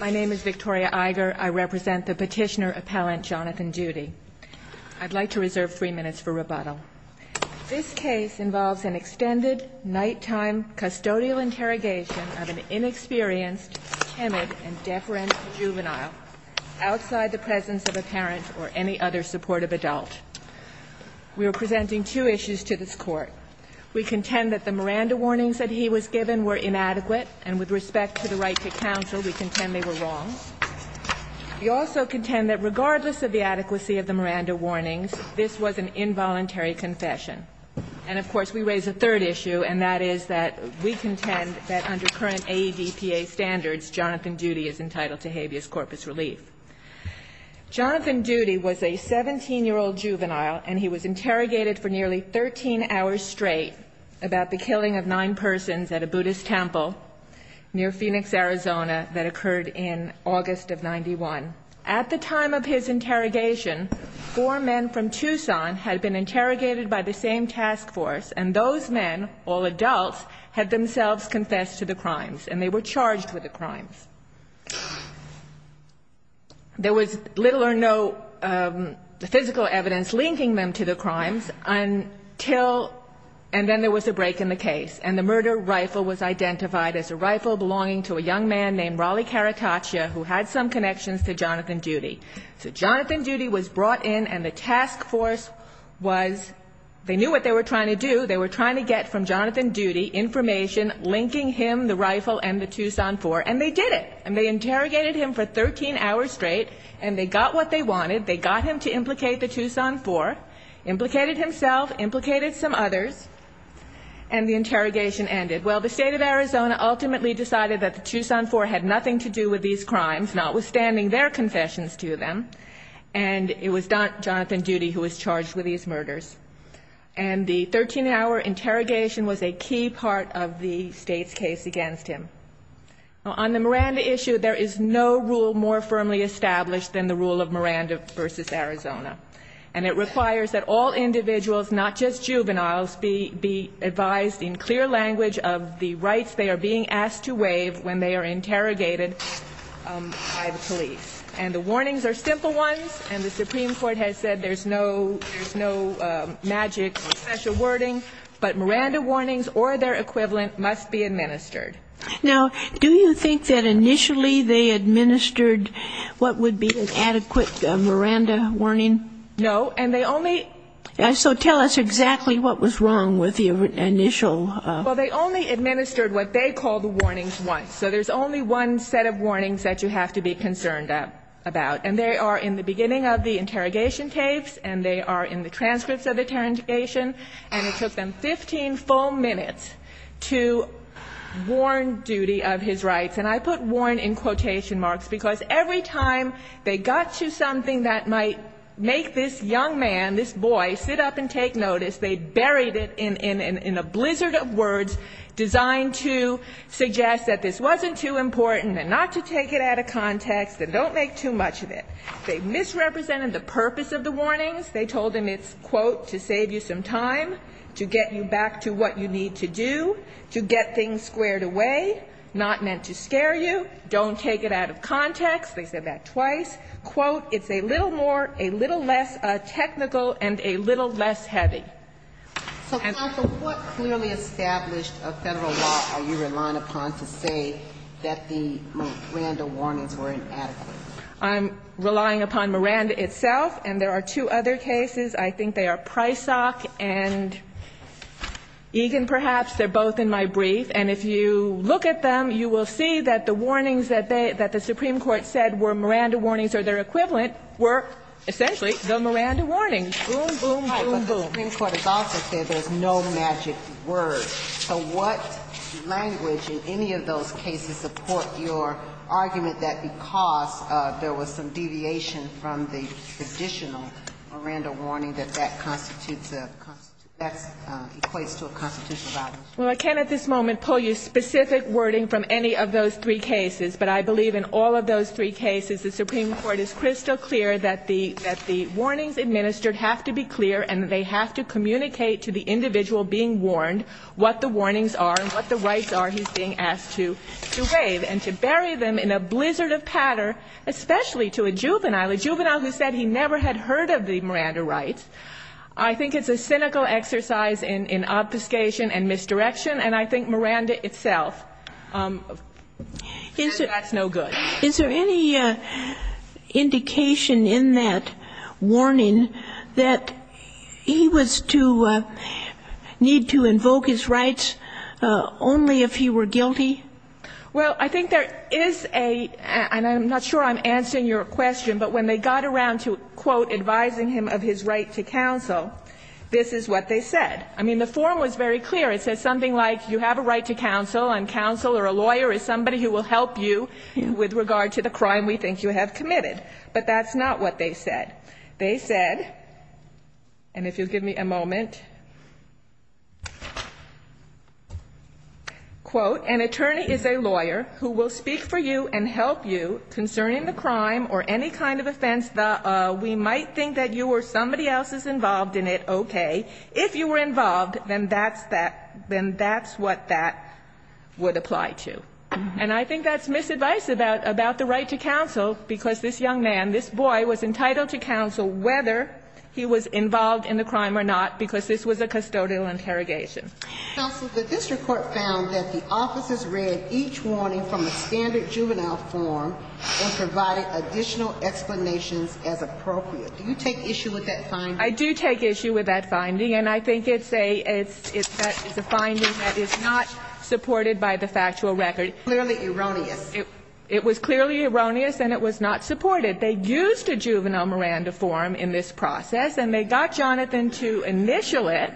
My name is Victoria Iger. I represent the Petitioner Appellant Jonathan Duty. I'd like to reserve three minutes for rebuttal. This case involves an extended nighttime custodial interrogation of an inexperienced, timid, and deference juvenile outside the presence of a parent or any other supportive adult. We are presenting two issues to this Court. We contend that the Miranda warnings that he was given were inadequate, and with respect to the right to counsel, we contend they were wrong. We also contend that regardless of the adequacy of the Miranda warnings, this was an involuntary confession. And, of course, we raise a third issue, and that is that we contend that under current AEDPA standards, Jonathan Duty is entitled to habeas corpus relief. Jonathan Duty was a 17-year-old juvenile, and he was interrogated for nearly 13 hours straight about the killing of nine persons at a Buddhist temple near Phoenix, Arizona that occurred in August of 1991. At the time of his interrogation, four men from Tucson had been interrogated by the same task force, and those men, all adults, had themselves confessed to the crimes, and they were charged with the crimes. There was little or no physical evidence linking them to the crimes until, and then there was a break in the case, and the murder rifle was identified as a rifle belonging to a young man named Raleigh Carataccia, who had some connections to Jonathan Duty. So Jonathan Duty was brought in, and the task force was, they knew what they were trying to do. They were trying to get from Jonathan Duty information linking him, the rifle, and the Tucson Four, and they did it. And they interrogated him for 13 hours straight, and they got what they wanted. They got him to implicate the Tucson Four, implicated himself, implicated some others, and the interrogation ended. Well, the state of Arizona ultimately decided that the Tucson Four had nothing to do with these crimes, notwithstanding their confessions to them, and it was Jonathan Duty who was charged with these murders. And the 13-hour interrogation was a key part of the state's case against him. On the Miranda issue, there is no rule more firmly established than the rule of Miranda v. Arizona, and it requires that all individuals, not just juveniles, be advised in clear language of the rights they are being asked to waive when they are interrogated by the police. And the warnings are simple ones, and the Supreme Court has said there's no, there's no magic or special wording, but Miranda warnings or their equivalent must be administered. Now, do you think that initially they administered what would be an adequate Miranda warning? No. And they only So tell us exactly what was wrong with the initial Well, they only administered what they called the warnings once. So there's only one set of warnings that you have to be concerned about. And they are in the beginning of the interrogation tapes, and they are in the transcripts of the interrogation, and it took them 15 full minutes to warn Duty of his rights. And I put warn in quotation marks because every time they got to something that might make this young man, this boy, sit up and take notice, they buried it in a blizzard of words designed to suggest that this wasn't too important and not to take it out of context and don't make too much of it. They misrepresented the purpose of the warnings. They told him it's, quote, to save you some time, to get you back to what you need to do, to get things squared away, not meant to scare you, don't take it out of context. They said that twice. Quote, it's a little more, a little less technical and a little less heavy. So, counsel, what clearly established of Federal law are you relying upon to say that the Miranda warnings were inadequate? I'm relying upon Miranda itself, and there are two other cases. I think they are Prysock and Egan, perhaps. They're both in my brief. And if you look at them, you will see that the warnings that they – that the Supreme Court said were Miranda warnings or their equivalent were essentially the Miranda warnings. Boom, boom, boom, boom. But the Supreme Court is also clear there's no magic word. So what language in any of those cases support your argument that because there was some deviation from the traditional Miranda warning that that constitutes a – that equates to a constitutional violation? Well, I can't at this moment pull you specific wording from any of those three cases, but I believe in all of those three cases, the Supreme Court is crystal clear that the – that the warnings administered have to be clear and that they have to communicate to the individual being warned what the warnings are and what the rights are he's being asked to waive and to bury them in a blizzard of patter, especially to a juvenile, a juvenile who said he never had heard of the Miranda rights. I think it's a cynical exercise in obfuscation and misdirection, and I think Miranda itself says that's no good. Is there any indication in that warning that he was to need to invoke his rights only if he were guilty? Well, I think there is a – and I'm not sure I'm answering your question, but when they got around to, quote, advising him of his right to counsel, this is what they said. I mean, the form was very clear. It says something like, you have a right to counsel, and counsel or a lawyer is somebody who will help you with regard to the crime we think you have committed. But that's not what they said. They said – and if you'll give me a moment – quote, an attorney is a lawyer who will speak for you and help you concerning the crime or any kind of offense. We might think that you or somebody else is involved in it, okay. If you were involved, then that's that – then that's what that would apply to. And I think that's misadvice about the right to counsel, because this young man, this boy, was entitled to counsel whether he was involved in the crime or not, because this was a custodial interrogation. Counsel, the district court found that the officers read each warning from the standard juvenile form and provided additional explanations as appropriate. Do you take issue with that finding? I do take issue with that finding, and I think it's a – it's a finding that is not supported by the factual record. Clearly erroneous. It was clearly erroneous, and it was not supported. They used a juvenile Miranda form in this process, and they got Jonathan to initial it,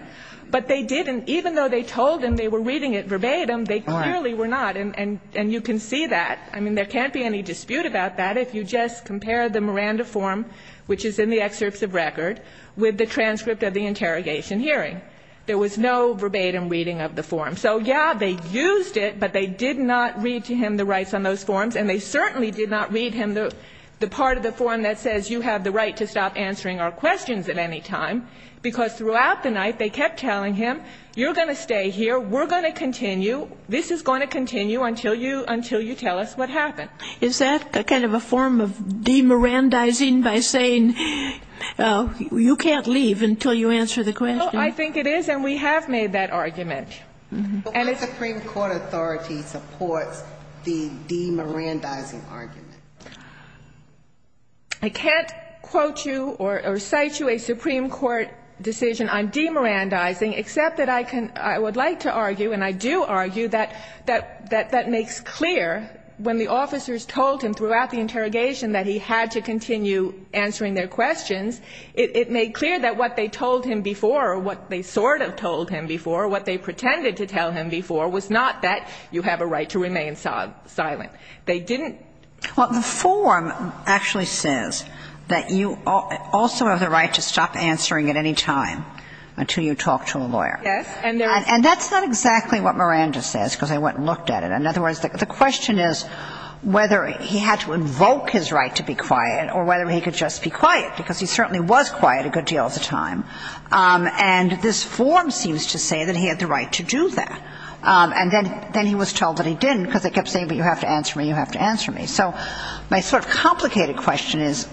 but they didn't – even though they told him they were reading it verbatim, they clearly were not. And you can see that. I mean, there can't be any dispute about that if you just compare the Miranda form, which is in the excerpts of record, with the transcript of the interrogation hearing. There was no verbatim reading of the form. So, yeah, they used it, but they did not read to him the rights on those forms, and they certainly did not read him the part of the form that says you have the right to stop answering our questions at any time, because throughout the night they kept telling him, you're going to stay here, we're going to continue, this is going to continue until you – until you tell us what happened. Is that a kind of a form of demirandizing by saying you can't leave until you answer the question? Well, I think it is, and we have made that argument. But why does the Supreme Court authority support the demirandizing argument? I can't quote you or cite you a Supreme Court decision on demirandizing, except that I can – I would like to argue, and I do argue that that makes clear, when the officers told him throughout the interrogation that he had to continue answering their questions, it made clear that what they told him before, or what they sort of told him before, what they pretended to tell him before, was not that you have a right to remain silent. They didn't – Well, the form actually says that you also have the right to stop answering at any time until you talk to a lawyer. Yes, and there is – And that's not exactly what Miranda says, because I went and looked at it. In other words, the question is whether he had to invoke his right to be quiet or whether he could just be quiet, because he certainly was quiet a good deal of the time. And this form seems to say that he had the right to do that. And then he was told that he didn't, because they kept saying, but you have to answer me, you have to answer me. So my sort of complicated question is,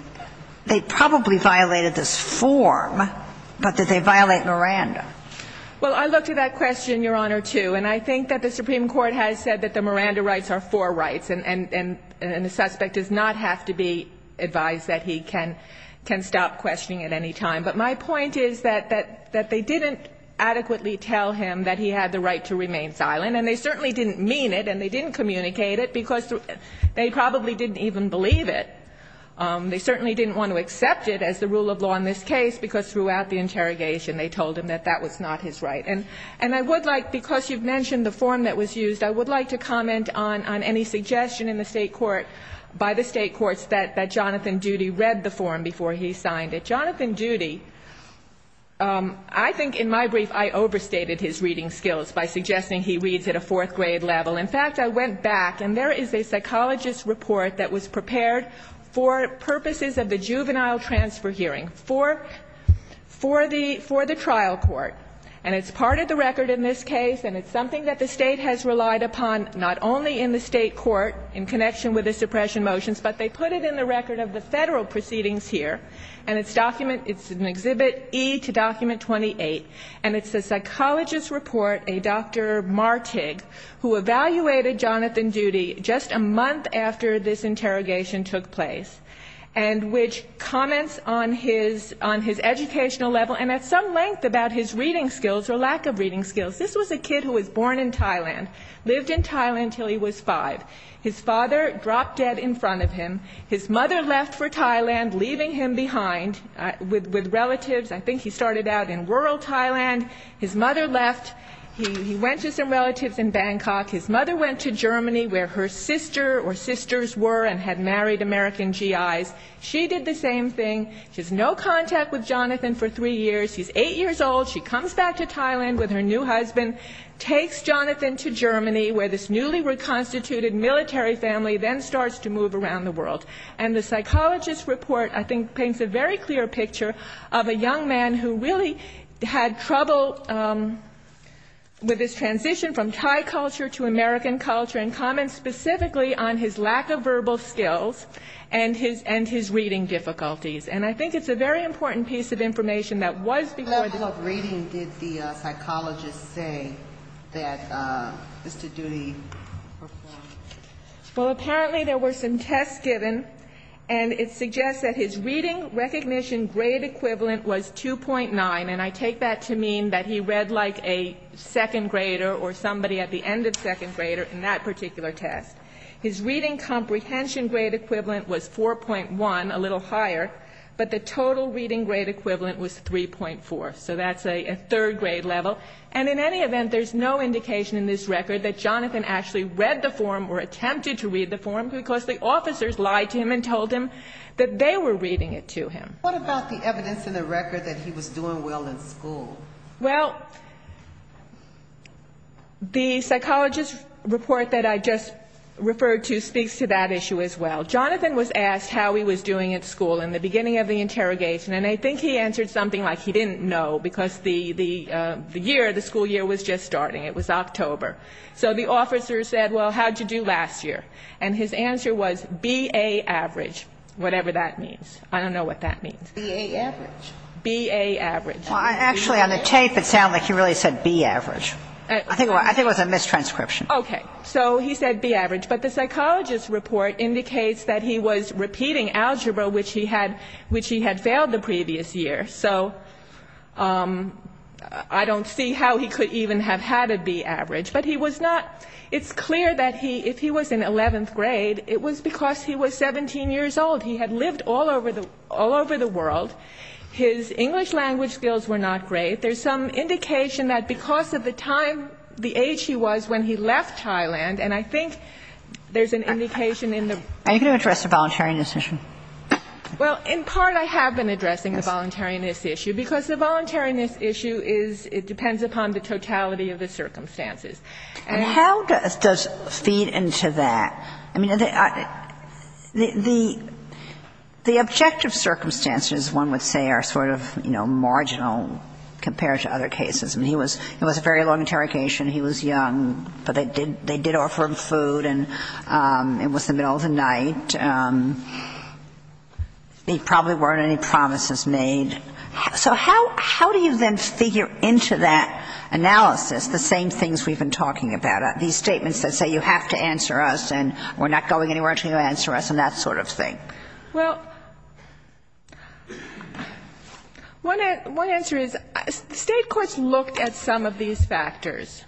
they probably violated this form, but did they violate Miranda? Well, I looked at that question, Your Honor, too, and I think that the Supreme Court has said that the Miranda rights are for rights, and the suspect does not have to be advised that he can stop questioning at any time. But my point is that they didn't adequately tell him that he had the right to remain silent, and they certainly didn't mean it and they didn't communicate it, because they probably didn't even believe it. They certainly didn't want to accept it as the rule of law in this case, because throughout the interrogation they told him that that was not his right. And I would like – because you've mentioned the form that was used, I would like to comment on any suggestion in the State court, by the State courts, that Jonathan Doody read the form before he signed it. Jonathan Doody, I think in my brief I overstated his reading skills by suggesting he reads at a fourth-grade level. In fact, I went back, and there is a psychologist's report that was prepared for purposes of the juvenile transfer hearing, for the trial court. And it's part of the record in this case, and it's something that the State has relied upon not only in the State court, in connection with the suppression motions, but they put it in the record of the Federal proceedings here. And it's an Exhibit E to Document 28, and it's a psychologist's report, a Dr. Martig, who evaluated Jonathan Doody just a month after this interrogation took place, and which comments on his educational level and at some length about his reading skills or lack of reading skills. This was a kid who was born in Thailand, lived in Thailand until he was five. His father dropped dead in front of him. His mother left for Thailand, leaving him behind with relatives. I think he started out in rural Thailand. His mother left. He went to some relatives in Bangkok. His mother went to Germany, where her sister or sisters were and had married American GIs. She did the same thing. She has no contact with Jonathan for three years. He's eight years old. She comes back to Thailand with her new husband, takes Jonathan to Germany, where this newly reconstituted military family then starts to move around the world. And the psychologist's report, I think, paints a very clear picture of a young man who really had trouble with his transition from Thai culture to American culture, and comments specifically on his lack of verbal skills and his reading difficulties. And I think it's a very important piece of information that was before this. What reading did the psychologist say that Mr. Doody performed? Well, apparently there were some tests given, and it suggests that his reading recognition grade equivalent was 2.9, and I take that to mean that he read like a second grader or somebody at the end of second grader in that particular test. His reading comprehension grade equivalent was 4.1, a little higher, but the total reading grade equivalent was 3.4. So that's a third grade level. And in any event, there's no indication in this record that Jonathan actually read the form or attempted to read the form, because the officers lied to him and told him that they were reading it to him. What about the evidence in the record that he was doing well in school? Well, the psychologist's report that I just referred to speaks to that issue as well. Jonathan was asked how he was doing at school in the beginning of the interrogation, and I think he answered something like he didn't know, because the year, the school year was just starting. It was October. So the officer said, well, how'd you do last year? And his answer was B.A. average, whatever that means. I don't know what that means. B.A. average? B.A. average. Well, actually, on the tape, it sounded like he really said B.A. average. I think it was a mistranscription. Okay. So he said B.A. average. But the psychologist's report indicates that he was repeating algebra, which he had failed the previous year. So I don't see how he could even have had a B.A. average. But he was not ‑‑ it's clear that he, if he was in 11th grade, it was because he was 17 years old. He had lived all over the world. His English language skills were not great. There's some indication that because of the time, the age he was when he left Thailand, and I think there's an indication in the ‑‑ Are you going to address the voluntary indecision? Well, in part, I have been addressing the voluntariness issue, because the voluntariness issue is it depends upon the totality of the circumstances. How does ‑‑ does it feed into that? I mean, the ‑‑ the objective circumstances, one would say, are sort of, you know, marginal compared to other cases. I mean, he was ‑‑ it was a very long interrogation. He was young. But they did ‑‑ they did offer him food, and it was the middle of the night. And he probably weren't any promises made. So how do you then figure into that analysis the same things we've been talking about, these statements that say you have to answer us, and we're not going anywhere until you answer us, and that sort of thing? Well, one answer is the state courts looked at some of these factors.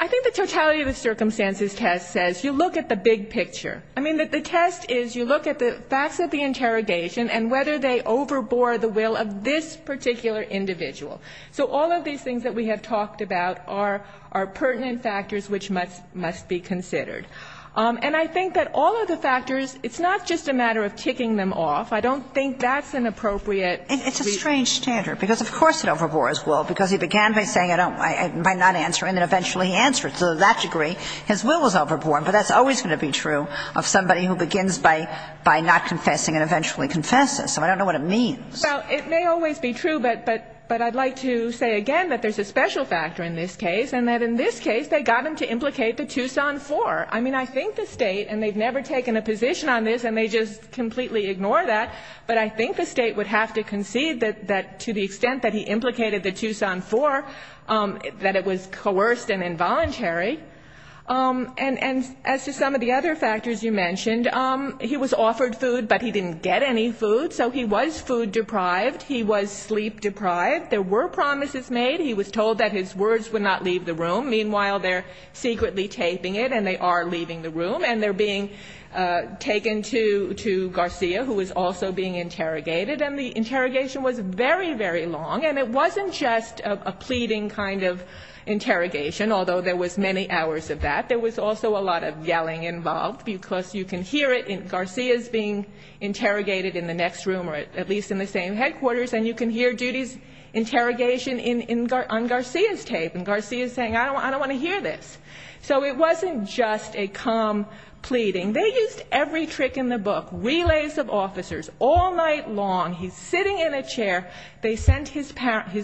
I think the totality of the circumstances test says you look at the big picture. I mean, the test is you look at the facts of the interrogation and whether they overbore the will of this particular individual. So all of these things that we have talked about are pertinent factors which must be considered. And I think that all of the factors, it's not just a matter of ticking them off. I don't think that's an appropriate ‑‑ It's a strange standard, because of course it overbores will, because he began by saying I don't ‑‑ by not answering, and eventually he answered. To that degree, his will was overbore, but that's always going to be true of somebody who begins by not confessing and eventually confesses. So I don't know what it means. Well, it may always be true, but I'd like to say again that there's a special factor in this case, and that in this case, they got him to implicate the Tucson Four. I mean, I think the state, and they've never taken a position on this, and they just completely ignore that, but I think the state would have to concede that to the extent that he implicated the Tucson Four, that it was coerced and involuntary. And as to some of the other factors you mentioned, he was offered food, but he didn't get any food, so he was food deprived. He was sleep deprived. There were promises made. He was told that his words would not leave the room. Meanwhile, they're secretly taping it, and they are leaving the room, and they're being taken to Garcia, who is also being interrogated, and the interrogation was very, very long, and it wasn't just a pleading kind of interrogation, although there was many hours of that. There was also a lot of yelling involved, because you can hear it in Garcia's being interrogated in the next room, or at least in the same headquarters, and you can hear Judy's interrogation on Garcia's tape, and Garcia's saying, I don't want to hear this. So it wasn't just a calm pleading. They used every trick in the book, relays of officers, all night long, he's sitting in a chair, they sent his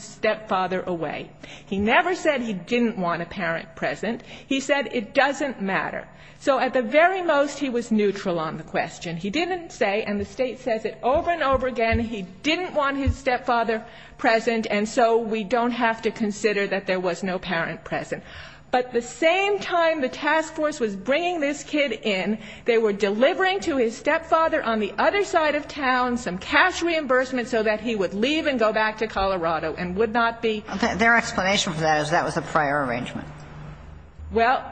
stepfather away. He never said he didn't want a parent present. He said it doesn't matter. So at the very most, he was neutral on the question. He didn't say, and the State says it over and over again, he didn't want his stepfather present, and so we don't have to consider that there was no parent present. But the same time the task force was bringing this kid in, they were delivering to his stepfather on the other side of town some cash reimbursement so that he would leave and go back to Colorado and would not be. Kagan. Their explanation for that is that was a prior arrangement. Well,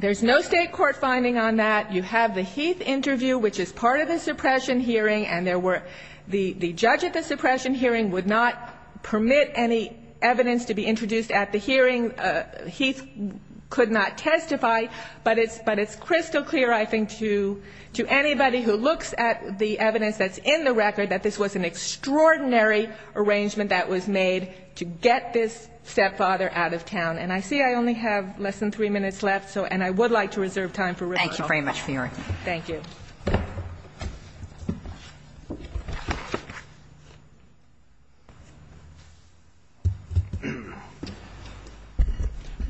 there's no State court finding on that. You have the Heath interview, which is part of the suppression hearing, and there were the judge at the suppression hearing would not permit any evidence to be introduced at the hearing. And Heath could not testify, but it's crystal clear, I think, to anybody who looks at the evidence that's in the record that this was an extraordinary arrangement that was made to get this stepfather out of town. And I see I only have less than three minutes left, and I would like to reserve time for rebuttal. Thank you very much for your argument. Thank you.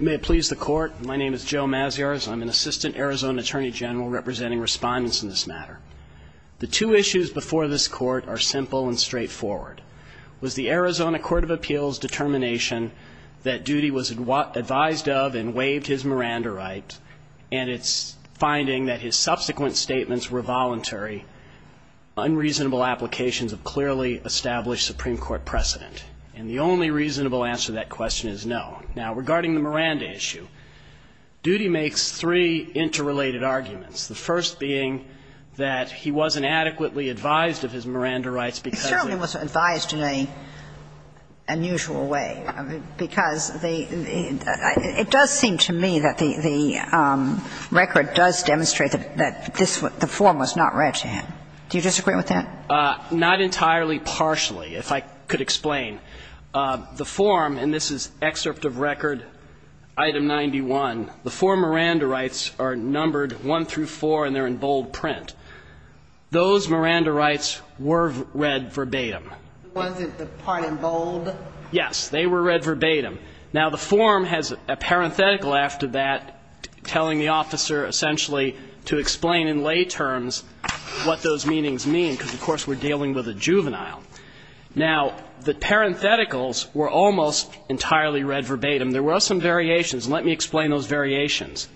May it please the court. My name is Joe Maziarz. I'm an assistant Arizona attorney general representing respondents in this matter. The two issues before this court are simple and straightforward. Was the Arizona Court of Appeals determination that Duty was advised of and waived his Miranda right, and it's finding that his subsequent statements were voluntary, unreasonable applications of clearly established Supreme Court precedent? And the only reasonable answer to that question is no. Now, regarding the Miranda issue, Duty makes three interrelated arguments, the first being that he wasn't adequately advised of his Miranda rights because of the It certainly wasn't advised in an unusual way, because it does seem to me that the record does demonstrate that the form was not read to him. Do you disagree with that? Not entirely partially, if I could explain. The form, and this is excerpt of record item 91, the four Miranda rights are numbered one through four, and they're in bold print. Those Miranda rights were read verbatim. Wasn't the part in bold? Yes. They were read verbatim. Now, the form has a parenthetical after that telling the officer essentially to explain in lay terms what those meanings mean, because, of course, we're dealing with a juvenile. Now, the parentheticals were almost entirely read verbatim. There were some variations. Let me explain those variations.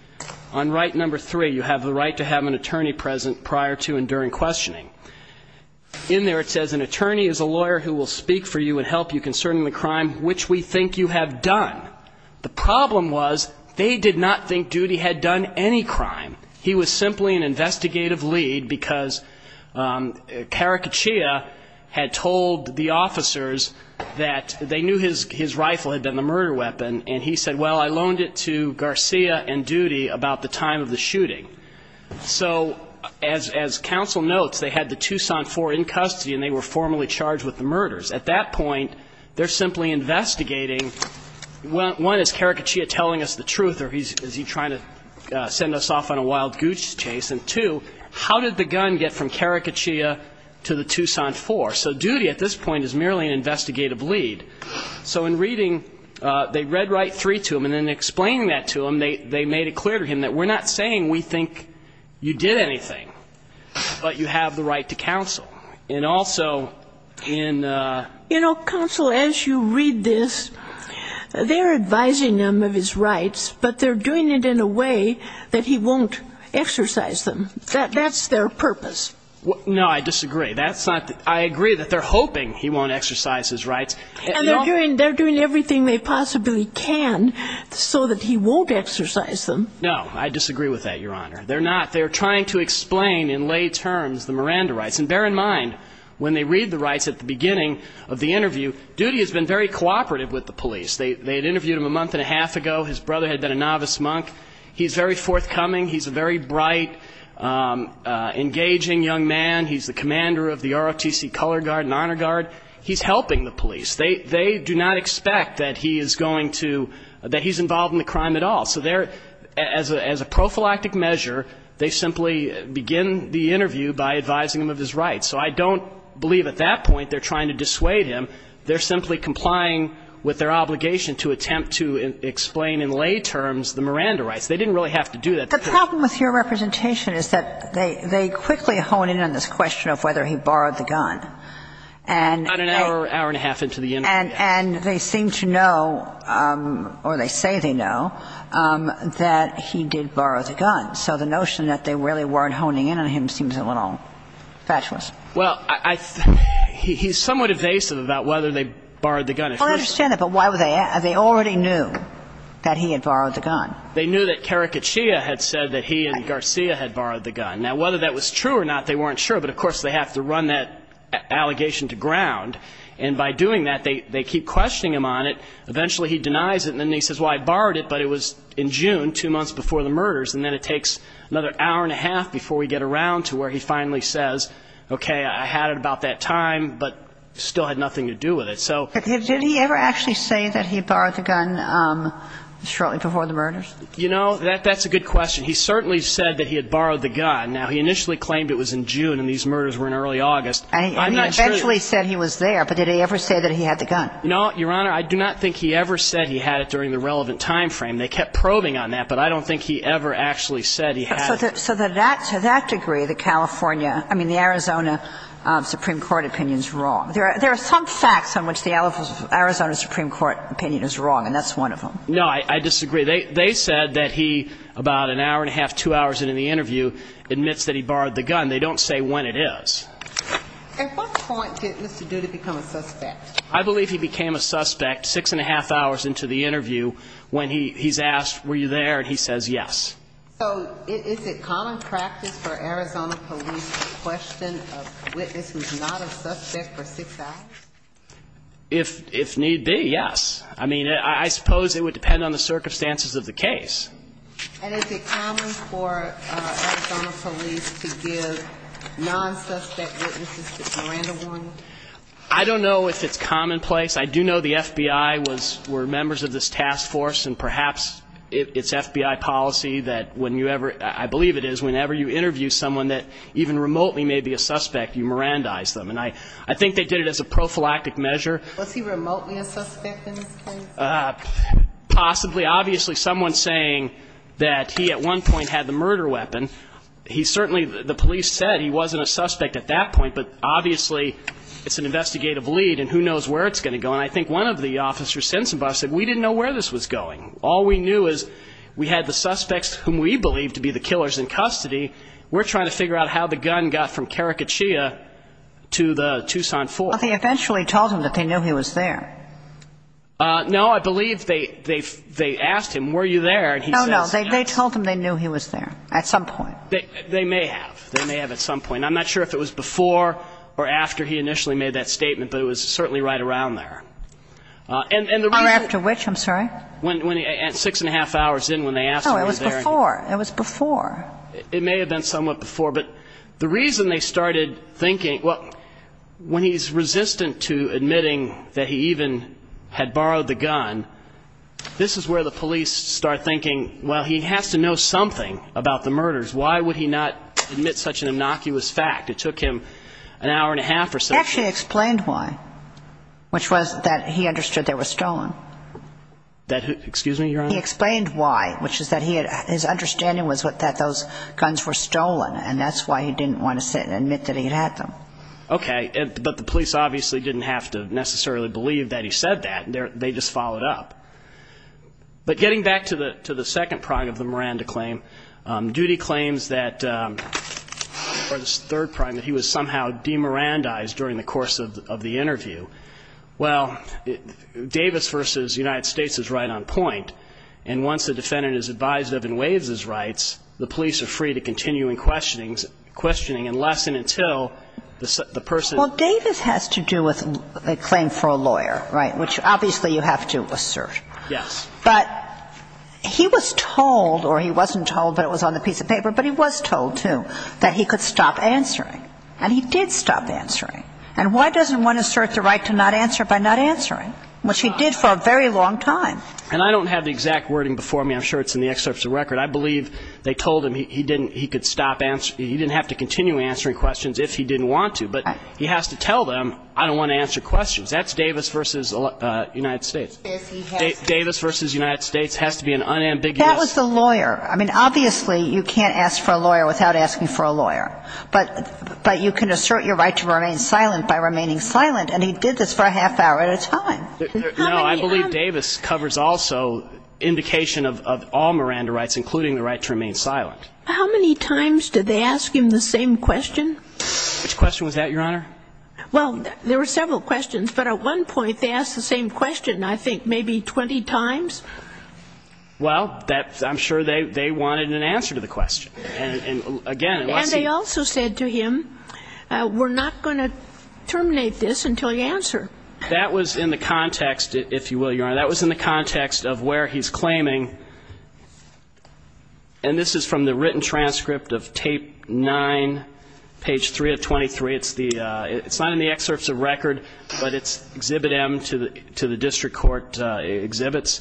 On right number three, you have the right to have an attorney present prior to and during questioning. In there it says an attorney is a lawyer who will speak for you and help you concerning the crime which we think you have done. The problem was they did not think Duty had done any crime. He was simply an investigative lead, because Caraccia had told the officers that they knew his rifle had been the murder weapon, and he said, well, I loaned it to Garcia and Duty about the time of the shooting. So as counsel notes, they had the Tucson Four in custody, and they were formally charged with the murders. At that point, they're simply investigating, one, is Caraccia telling us the truth, or is he trying to send us off on a wild goose chase, and two, how did the gun get from Caraccia to the Tucson Four? So Duty at this point is merely an investigative lead. So in reading, they read right three to him, and in explaining that to him, they made it clear to him that we're not saying we think you did anything, but you have the right to counsel. And also in the ---- And they're doing it in a way that he won't exercise them. That's their purpose. No, I disagree. I agree that they're hoping he won't exercise his rights. And they're doing everything they possibly can so that he won't exercise them. No, I disagree with that, Your Honor. They're not. They're trying to explain in lay terms the Miranda rights. And bear in mind, when they read the rights at the beginning of the interview, Duty has been very cooperative with the police. They had interviewed him a month and a half ago. His brother had been a novice monk. He's very forthcoming. He's a very bright, engaging young man. He's the commander of the ROTC Color Guard and Honor Guard. He's helping the police. They do not expect that he is going to ---- that he's involved in the crime at all. So they're, as a prophylactic measure, they simply begin the interview by advising him of his rights. So I don't believe at that point they're trying to dissuade him. They're simply complying with their obligation to attempt to explain in lay terms the Miranda rights. They didn't really have to do that. The problem with your representation is that they quickly hone in on this question of whether he borrowed the gun. About an hour, hour and a half into the interview, yes. And they seem to know, or they say they know, that he did borrow the gun. So the notion that they really weren't honing in on him seems a little fatuous. Well, he's somewhat evasive about whether they borrowed the gun. I understand that. But why would they ask? They already knew that he had borrowed the gun. They knew that Caraccia had said that he and Garcia had borrowed the gun. Now, whether that was true or not, they weren't sure. But, of course, they have to run that allegation to ground. And by doing that, they keep questioning him on it. Eventually, he denies it. And then he says, well, I borrowed it, but it was in June, two months before the murders. And then it takes another hour and a half before we get around to where he finally says, okay, I had it about that time, but still had nothing to do with it. Did he ever actually say that he borrowed the gun shortly before the murders? You know, that's a good question. He certainly said that he had borrowed the gun. Now, he initially claimed it was in June and these murders were in early August. And he eventually said he was there. But did he ever say that he had the gun? No, Your Honor, I do not think he ever said he had it during the relevant time frame. They kept probing on that, but I don't think he ever actually said he had it. So to that degree, the California – I mean, the Arizona Supreme Court opinion is wrong. There are some facts on which the Arizona Supreme Court opinion is wrong, and that's one of them. No, I disagree. They said that he, about an hour and a half, two hours into the interview, admits that he borrowed the gun. They don't say when it is. At what point did Mr. Duda become a suspect? I believe he became a suspect six and a half hours into the interview when he's asked, were you there, and he says yes. So is it common practice for Arizona police to question a witness who's not a suspect for six hours? If need be, yes. I mean, I suppose it would depend on the circumstances of the case. And is it common for Arizona police to give non-suspect witnesses the surrender warning? I don't know if it's commonplace. I do know the FBI were members of this task force, and perhaps it's FBI policy that when you ever – I believe it is – whenever you interview someone that even remotely may be a suspect, you Mirandize them. And I think they did it as a prophylactic measure. Was he remotely a suspect in this case? Possibly. Obviously, someone saying that he at one point had the murder weapon, he certainly – the police said he wasn't a suspect at that point, but obviously it's an investigative lead, and who knows where it's going to go. And I think one of the officers said, we didn't know where this was going. All we knew is we had the suspects whom we believed to be the killers in custody. We're trying to figure out how the gun got from Karakachia to the Tucson Fort. Well, they eventually told him that they knew he was there. No, I believe they asked him, were you there, and he says yes. No, no, they told him they knew he was there at some point. They may have. They may have at some point. I'm not sure if it was before or after he initially made that statement, but it was certainly right around there. Or after which, I'm sorry? Six and a half hours in when they asked him. No, it was before. It was before. It may have been somewhat before, but the reason they started thinking, well, when he's resistant to admitting that he even had borrowed the gun, this is where the police start thinking, well, he has to know something about the murders. Why would he not admit such an innocuous fact? It took him an hour and a half or so. He actually explained why, which was that he understood they were stolen. Excuse me, Your Honor? He explained why, which is that his understanding was that those guns were stolen, and that's why he didn't want to sit and admit that he had them. Okay. But the police obviously didn't have to necessarily believe that he said that. They just followed up. But getting back to the second prong of the Miranda claim, Duty claims that, or the third prong, that he was somehow demirandized during the course of the interview. Well, Davis v. United States is right on point, and once the defendant is advised of and waives his rights, the police are free to continue in questioning unless and until the person ---- Well, Davis has to do with a claim for a lawyer, right, which obviously you have to assert. Yes. But he was told, or he wasn't told, but it was on the piece of paper, but he was told, too, that he could stop answering. And he did stop answering. And why doesn't one assert the right to not answer by not answering, which he did for a very long time? And I don't have the exact wording before me. I'm sure it's in the excerpts of the record. I believe they told him he didn't ---- he could stop ---- he didn't have to continue answering questions if he didn't want to, but he has to tell them, I don't want to answer questions. That's Davis v. United States. Davis v. United States has to be an unambiguous ---- That was the lawyer. I mean, obviously you can't ask for a lawyer without asking for a lawyer. But you can assert your right to remain silent by remaining silent, and he did this for a half hour at a time. No, I believe Davis covers also indication of all Miranda rights, including the right to remain silent. How many times did they ask him the same question? Which question was that, Your Honor? Well, there were several questions, but at one point they asked the same question I think maybe 20 times. Well, I'm sure they wanted an answer to the question. And, again, unless he ---- And they also said to him, we're not going to terminate this until you answer. That was in the context, if you will, Your Honor, that was in the context of where he's claiming, and this is from the written transcript of tape 9, page 3 of 23. It's the ---- It's not in the excerpts of record, but it's exhibit M to the district court exhibits.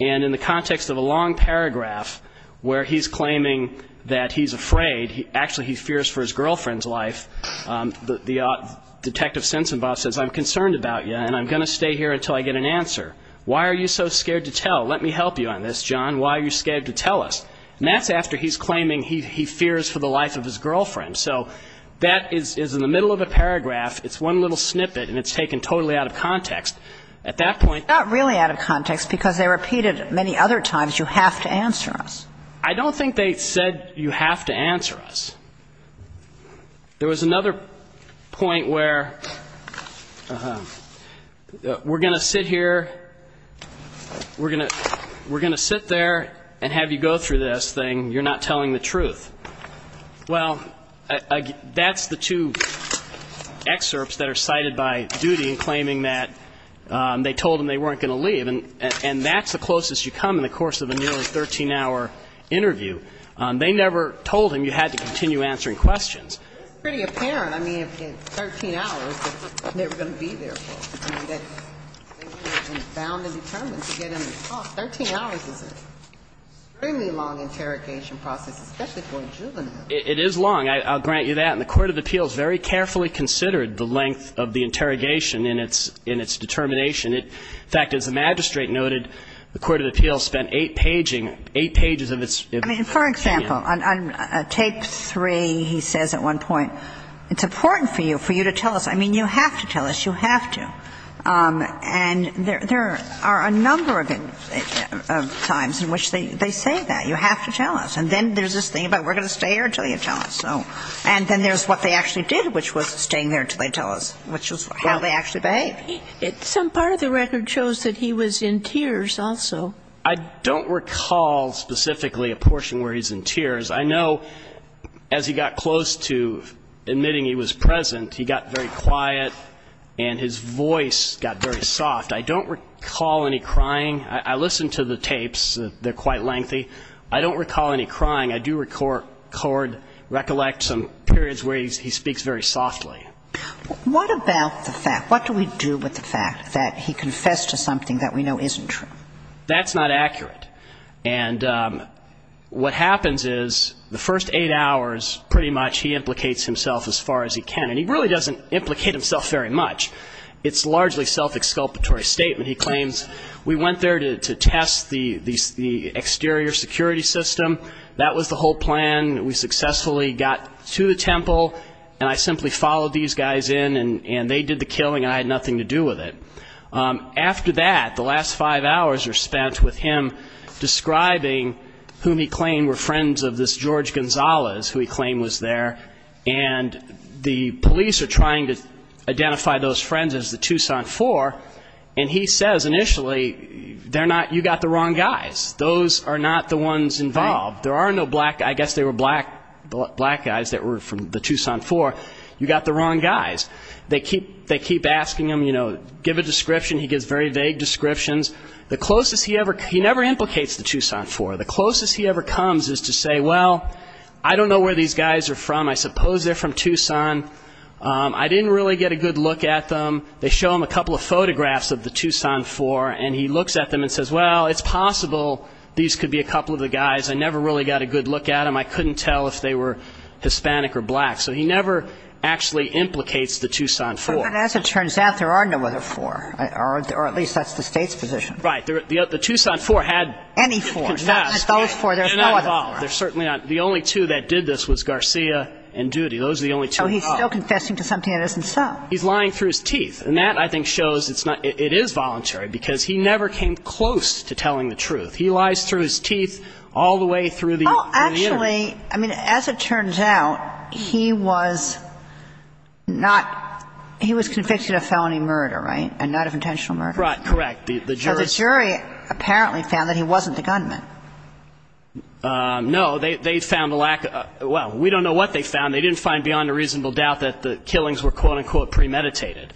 And in the context of a long paragraph where he's claiming that he's afraid, actually he fears for his girlfriend's life, the Detective Sensenbos says, I'm concerned about you, and I'm going to stay here until I get an answer. Why are you so scared to tell? Let me help you on this, John. Why are you scared to tell us? And that's after he's claiming he fears for the life of his girlfriend. So that is in the middle of a paragraph. It's one little snippet, and it's taken totally out of context. At that point ---- It's not really out of context, because they repeated many other times, you have to answer us. I don't think they said you have to answer us. There was another point where we're going to sit here, we're going to sit there and have you go through this, saying you're not telling the truth. Well, that's the two excerpts that are cited by duty in claiming that they told him they weren't going to leave. And that's the closest you come in the course of a nearly 13-hour interview. They never told him you had to continue answering questions. It's pretty apparent, I mean, if it's 13 hours, they're never going to be there for him. They were bound and determined to get him to talk. 13 hours is an extremely long interrogation process, especially for a juvenile. It is long. I'll grant you that. And the court of appeals very carefully considered the length of the interrogation in its determination. In fact, as the magistrate noted, the court of appeals spent eight pages of its ---- I mean, for example, on tape three, he says at one point, it's important for you to tell us. I mean, you have to tell us. You have to. And there are a number of times in which they say that. You have to tell us. And then there's this thing about we're going to stay here until you tell us. And then there's what they actually did, which was staying there until they tell us, which was how they actually behaved. Some part of the record shows that he was in tears also. I don't recall specifically a portion where he's in tears. I know as he got close to admitting he was present, he got very quiet and his voice got very soft. I don't recall any crying. I listened to the tapes. They're quite lengthy. I don't recall any crying. I do record, recollect some periods where he speaks very softly. What about the fact, what do we do with the fact that he confessed to something that we know isn't true? That's not accurate. And what happens is the first eight hours, pretty much, he implicates himself as far as he can. And he really doesn't implicate himself very much. It's largely self-exculpatory statement. He claims, we went there to test the exterior security system. That was the whole plan. We successfully got to the temple and I simply followed these guys in and they did the killing and I had nothing to do with it. After that, the last five hours are spent with him describing whom he claimed were friends of this George Gonzalez, who he claimed was there, and the police are trying to identify those friends as the Tucson Four, and he says initially, they're not, you got the wrong guys. Those are not the ones involved. There are no black, I guess they were black guys that were from the Tucson Four. You got the wrong guys. They keep asking him, you know, give a description. He gives very vague descriptions. The closest he ever, he never implicates the Tucson Four. The closest he ever comes is to say, well, I don't know where these guys are from. I suppose they're from Tucson. I didn't really get a good look at them. They show him a couple of photographs of the Tucson Four and he looks at them and says, well, it's possible these could be a couple of the guys. I never really got a good look at them. I couldn't tell if they were Hispanic or black. So he never actually implicates the Tucson Four. But as it turns out, there are no other four, or at least that's the State's position. Right. The Tucson Four had confessed. Any four. Not those four. There's no other four. They're certainly not. The only two that did this was Garcia and Duty. Those are the only two involved. So he's still confessing to something that isn't so. He's lying through his teeth. And that, I think, shows it is voluntary because he never came close to telling the truth. He lies through his teeth all the way through the interview. Oh, actually, I mean, as it turns out, he was not, he was convicted of felony murder, right, and not of intentional murder? Right, correct. So the jury apparently found that he wasn't the gunman. No. They found a lack of, well, we don't know what they found. They didn't find beyond a reasonable doubt that the killings were, quote, unquote, premeditated.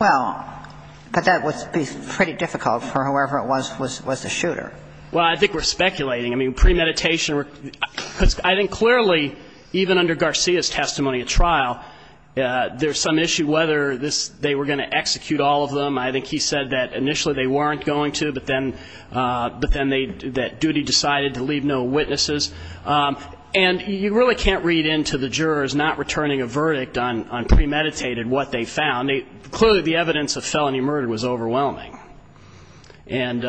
Well, but that would be pretty difficult for whoever it was, was the shooter. Well, I think we're speculating. I mean, premeditation, I think clearly, even under Garcia's testimony at trial, there's some issue whether they were going to execute all of them. I think he said that initially they weren't going to, but then that duty decided to leave no witnesses. And you really can't read into the jurors not returning a verdict on premeditated what they found. Clearly, the evidence of felony murder was overwhelming. And,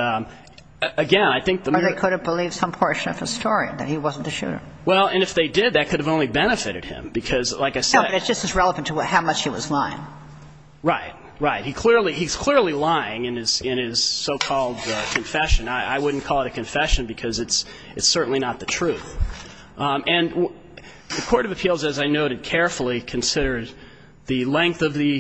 again, I think the murder. Or they could have believed some portion of his story, that he wasn't the shooter. Well, and if they did, that could have only benefited him because, like I said. No, but it's just as relevant to how much he was lying. Right, right. He's clearly lying in his so-called confession. I wouldn't call it a confession because it's certainly not the truth. And the Court of Appeals, as I noted carefully, considers the length of the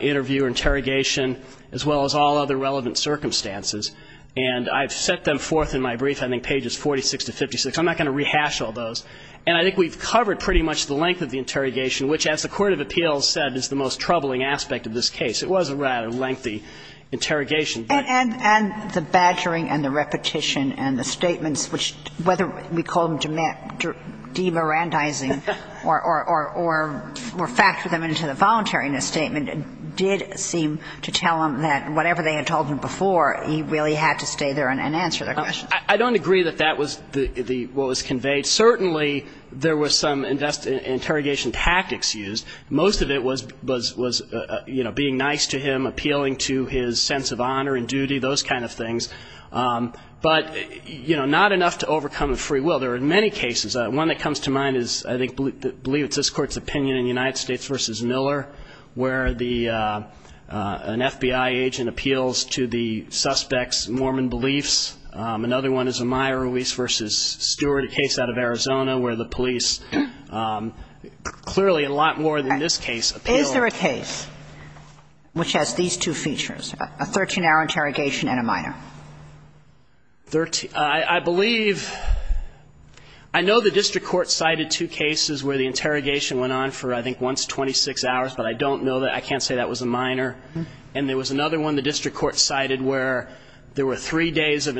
interview or interrogation as well as all other relevant circumstances. And I've set them forth in my brief, I think pages 46 to 56. I'm not going to rehash all those. And I think we've covered pretty much the length of the interrogation, which, as the Court of Appeals said, is the most troubling aspect of this case. It was a rather lengthy interrogation. And the badgering and the repetition and the statements, which whether we call them demorandizing or factor them into the voluntariness statement, did seem to tell him that whatever they had told him before, he really had to stay there and answer their questions. I don't agree that that was what was conveyed. Certainly, there were some interrogation tactics used. Most of it was, you know, being nice to him, appealing to his sense of honor and duty, those kind of things. But, you know, not enough to overcome a free will. There are many cases. One that comes to mind is, I believe it's this Court's opinion in United States v. Miller, where an FBI agent appeals to the suspect's Mormon beliefs. Another one is Amaya Ruiz v. Stewart, a case out of Arizona, where the police clearly a lot more than this case appeal. Is there a case which has these two features, a 13-hour interrogation and a minor? I believe ñ I know the district court cited two cases where the interrogation went on for, I think, once, 26 hours, but I don't know that. I can't say that was a minor. And there was another one the district court cited where there were three days of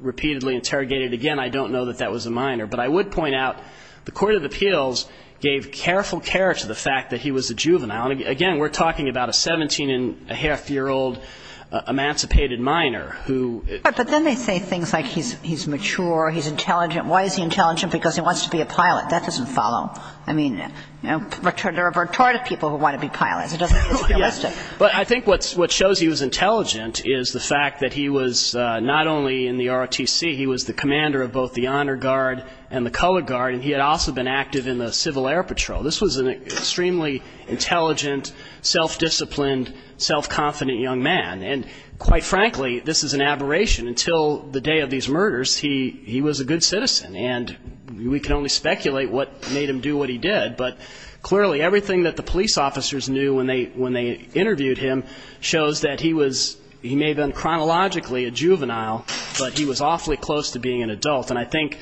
repeatedly interrogated. Again, I don't know that that was a minor. But I would point out the court of appeals gave careful care to the fact that he was a juvenile. And, again, we're talking about a 17-and-a-half-year-old emancipated minor who ñ But then they say things like he's mature, he's intelligent. Why is he intelligent? Because he wants to be a pilot. That doesn't follow. I mean, there are retarded people who want to be pilots. It doesn't ñ it's realistic. But I think what shows he was intelligent is the fact that he was not only in the ROTC, he was the commander of both the Honor Guard and the Color Guard, and he had also been active in the Civil Air Patrol. This was an extremely intelligent, self-disciplined, self-confident young man. And, quite frankly, this is an aberration. Until the day of these murders, he was a good citizen. And we can only speculate what made him do what he did. But, clearly, everything that the police officers knew when they interviewed him shows that he was ñ he may have been chronologically a juvenile, but he was awfully close to being an adult. And I think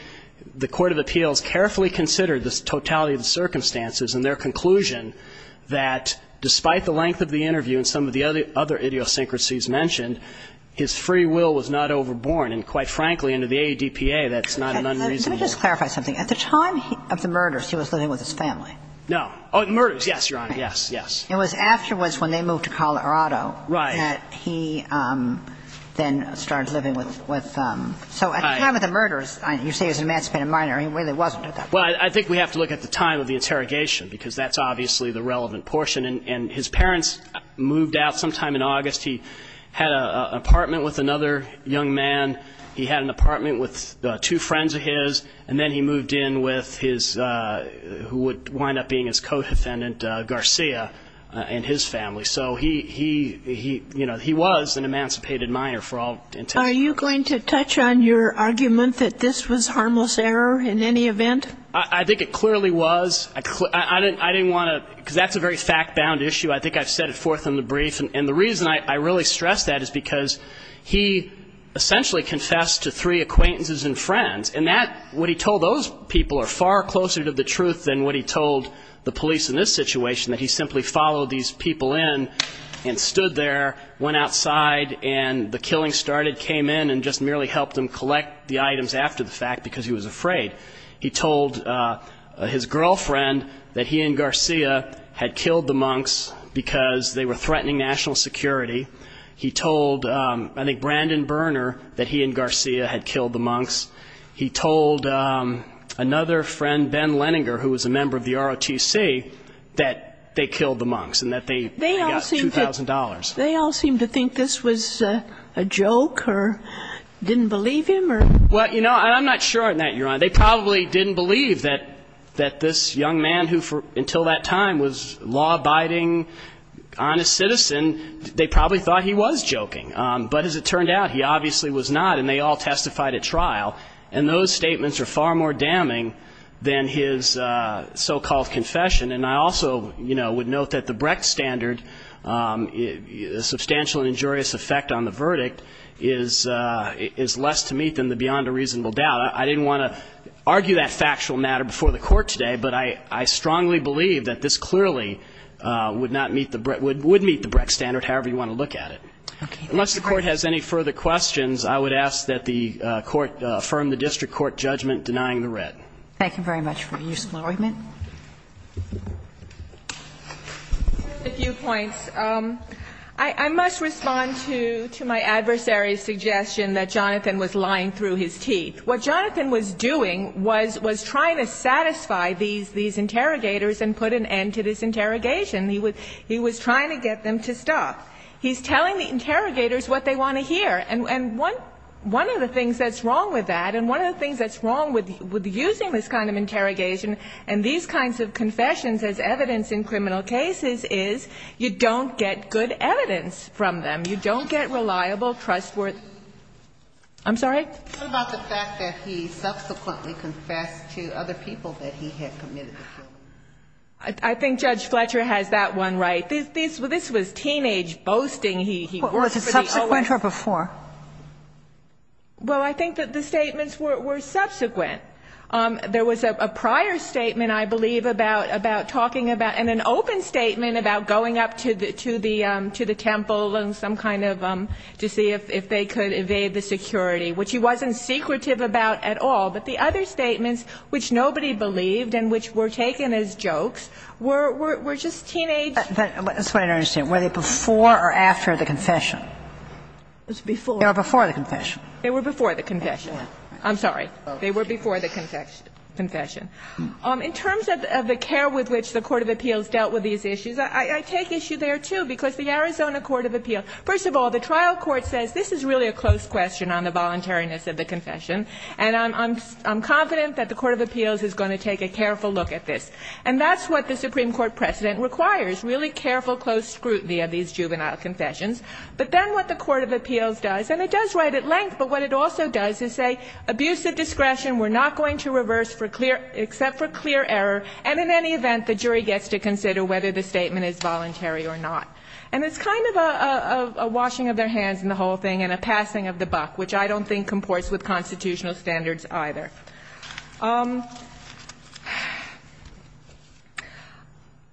the Court of Appeals carefully considered the totality of the circumstances and their conclusion that, despite the length of the interview and some of the other idiosyncrasies mentioned, his free will was not overborne. And, quite frankly, under the ADPA, that's not an unreasonable ñ Let me just clarify something. At the time of the murders, he was living with his family. No ñ oh, the murders, yes, Your Honor, yes, yes. It was afterwards when they moved to Colorado that he then started living with ñ so at the time of the murders, you say he was an emancipated minor. He really wasn't at that point. Well, I think we have to look at the time of the interrogation because that's obviously the relevant portion. And his parents moved out sometime in August. He had an apartment with another young man. He had an apartment with two friends of his. And then he moved in with his ñ who would wind up being his co-defendant, Garcia, and his family. So he, you know, he was an emancipated minor for all intents and purposes. Are you going to touch on your argument that this was harmless error in any event? I think it clearly was. I didn't want to ñ because that's a very fact-bound issue. I think I've set it forth in the brief. And the reason I really stress that is because he essentially confessed to three acquaintances and friends, and that ñ what he told those people are far closer to the truth than what he told the police in this situation, that he simply followed these people in and stood there, went outside, and the killing started, came in, and just merely helped them collect the items after the fact because he was afraid. He told his girlfriend that he and Garcia had killed the monks because they were threatening national security. He told, I think, Brandon Berner that he and Garcia had killed the monks. He told another friend, Ben Leninger, who was a member of the ROTC, that they killed the monks and that they got $2,000. They all seemed to think this was a joke or didn't believe him or ñ Well, you know, I'm not sure on that, Your Honor. They probably didn't believe that this young man who, until that time, was a law-abiding, honest citizen, they probably thought he was joking. But as it turned out, he obviously was not, and they all testified at trial. And those statements are far more damning than his so-called confession. And I also, you know, would note that the Brecht standard, the substantial injurious effect on the verdict is less to meet than the beyond a reasonable doubt. I didn't want to argue that factual matter before the Court today, but I strongly believe that this clearly would not meet the ñ would meet the Brecht standard, however you want to look at it. Okay. Unless the Court has any further questions, I would ask that the Court affirm the district court judgment denying the red. Thank you very much for your useful argument. Just a few points. I must respond to my adversary's suggestion that Jonathan was lying through his teeth. What Jonathan was doing was trying to satisfy these interrogators and put an end to this interrogation. He was trying to get them to stop. He's telling the interrogators what they want to hear. And one of the things that's wrong with that and one of the things that's wrong with using this kind of interrogation and these kinds of confessions as evidence in criminal cases is you don't get good evidence from them. You don't get reliable, trustworthy ñ I'm sorry? What about the fact that he subsequently confessed to other people that he had committed the killing? I think Judge Fletcher has that one right. This was teenage boasting. Was it subsequent or before? Well, I think that the statements were subsequent. There was a prior statement, I believe, about talking about ñ and an open statement about going up to the temple and some kind of ñ to see if they could evade the security, which he wasn't secretive about at all. But the other statements, which nobody believed and which were taken as jokes, were just teenage ñ That's what I don't understand. Were they before or after the confession? It was before. They were before the confession. They were before the confession. I'm sorry. They were before the confession. In terms of the care with which the court of appeals dealt with these issues, I take issue there, too, because the Arizona court of appeals ñ first of all, the trial court says, this is really a close question on the voluntariness of the confession, and I'm confident that the court of appeals is going to take a careful look at this. And that's what the Supreme Court precedent requires, really careful, close scrutiny of these juvenile confessions. But then what the court of appeals does, and it does right at length, but what it also does is say, abuse of discretion, we're not going to reverse for clear ñ except for clear error, and in any event, the jury gets to consider whether the statement is voluntary or not. And it's kind of a washing of their hands in the whole thing and a passing of the buck, which I don't think comports with constitutional standards either.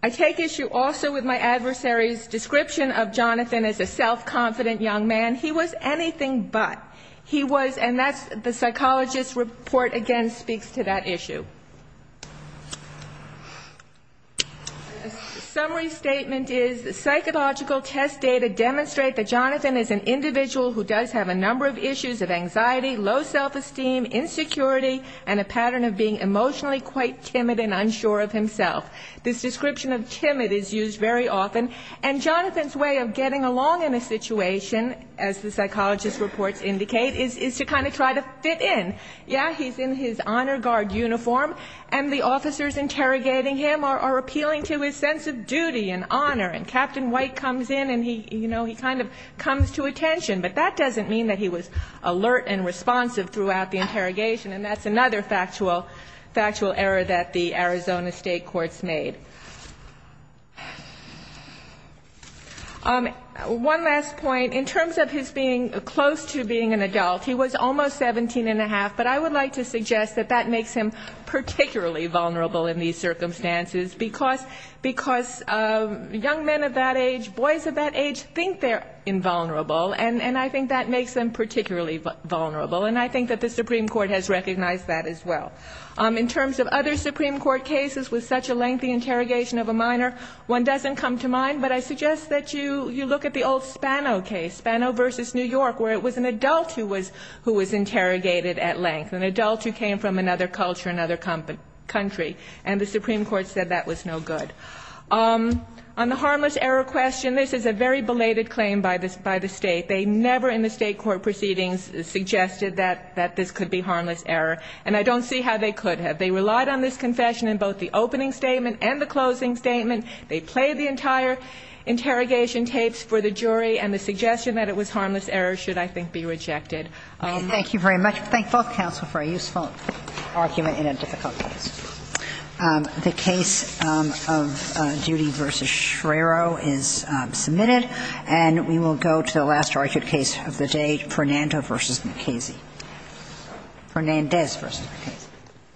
I take issue also with my adversary's description of Jonathan as a self-confident young man. He was anything but. He was ñ and that's ñ the psychologist's report, again, speaks to that issue. Summary statement is, psychological test data demonstrate that Jonathan is an individual who does have a number of issues of anxiety, low self-esteem, insecurity, and a pattern of being emotionally quite timid and unsure of himself. This description of timid is used very often. And Jonathan's way of getting along in a situation, as the psychologist's reports indicate, is to kind of try to fit in. Yeah, he's in his honor guard uniform. And the officers interrogating him are appealing to his sense of duty and honor. And Captain White comes in and he, you know, he kind of comes to attention. But that doesn't mean that he was alert and responsive throughout the interrogation. And that's another factual error that the Arizona State courts made. One last point. In terms of his being close to being an adult, he was almost 17 1⁄2, but I would like to suggest that that makes him particularly vulnerable in these circumstances, because young men of that age, boys of that age, think they're invulnerable. And I think that makes them particularly vulnerable. And I think that the Supreme Court has recognized that as well. In terms of other Supreme Court cases with such a lengthy interrogation of a minor, one doesn't come to mind, but I suggest that you look at the old Spano case, Spano v. New York, where it was an adult who was interrogated at length, an adult who came from another culture, another country. And the Supreme Court said that was no good. On the harmless error question, this is a very belated claim by the State. They never in the State court proceedings suggested that this could be harmless error. And I don't see how they could have. They relied on this confession in both the opening statement and the closing statement. They played the entire interrogation tapes for the jury, and the suggestion that it was harmless error should, I think, be rejected. Thank you very much. I thank both counsel for a useful argument in a difficult case. The case of Duty v. Schreiro is submitted. And we will go to the last argued case of the day, Fernando v. McCasey. Fernandez v. McCasey.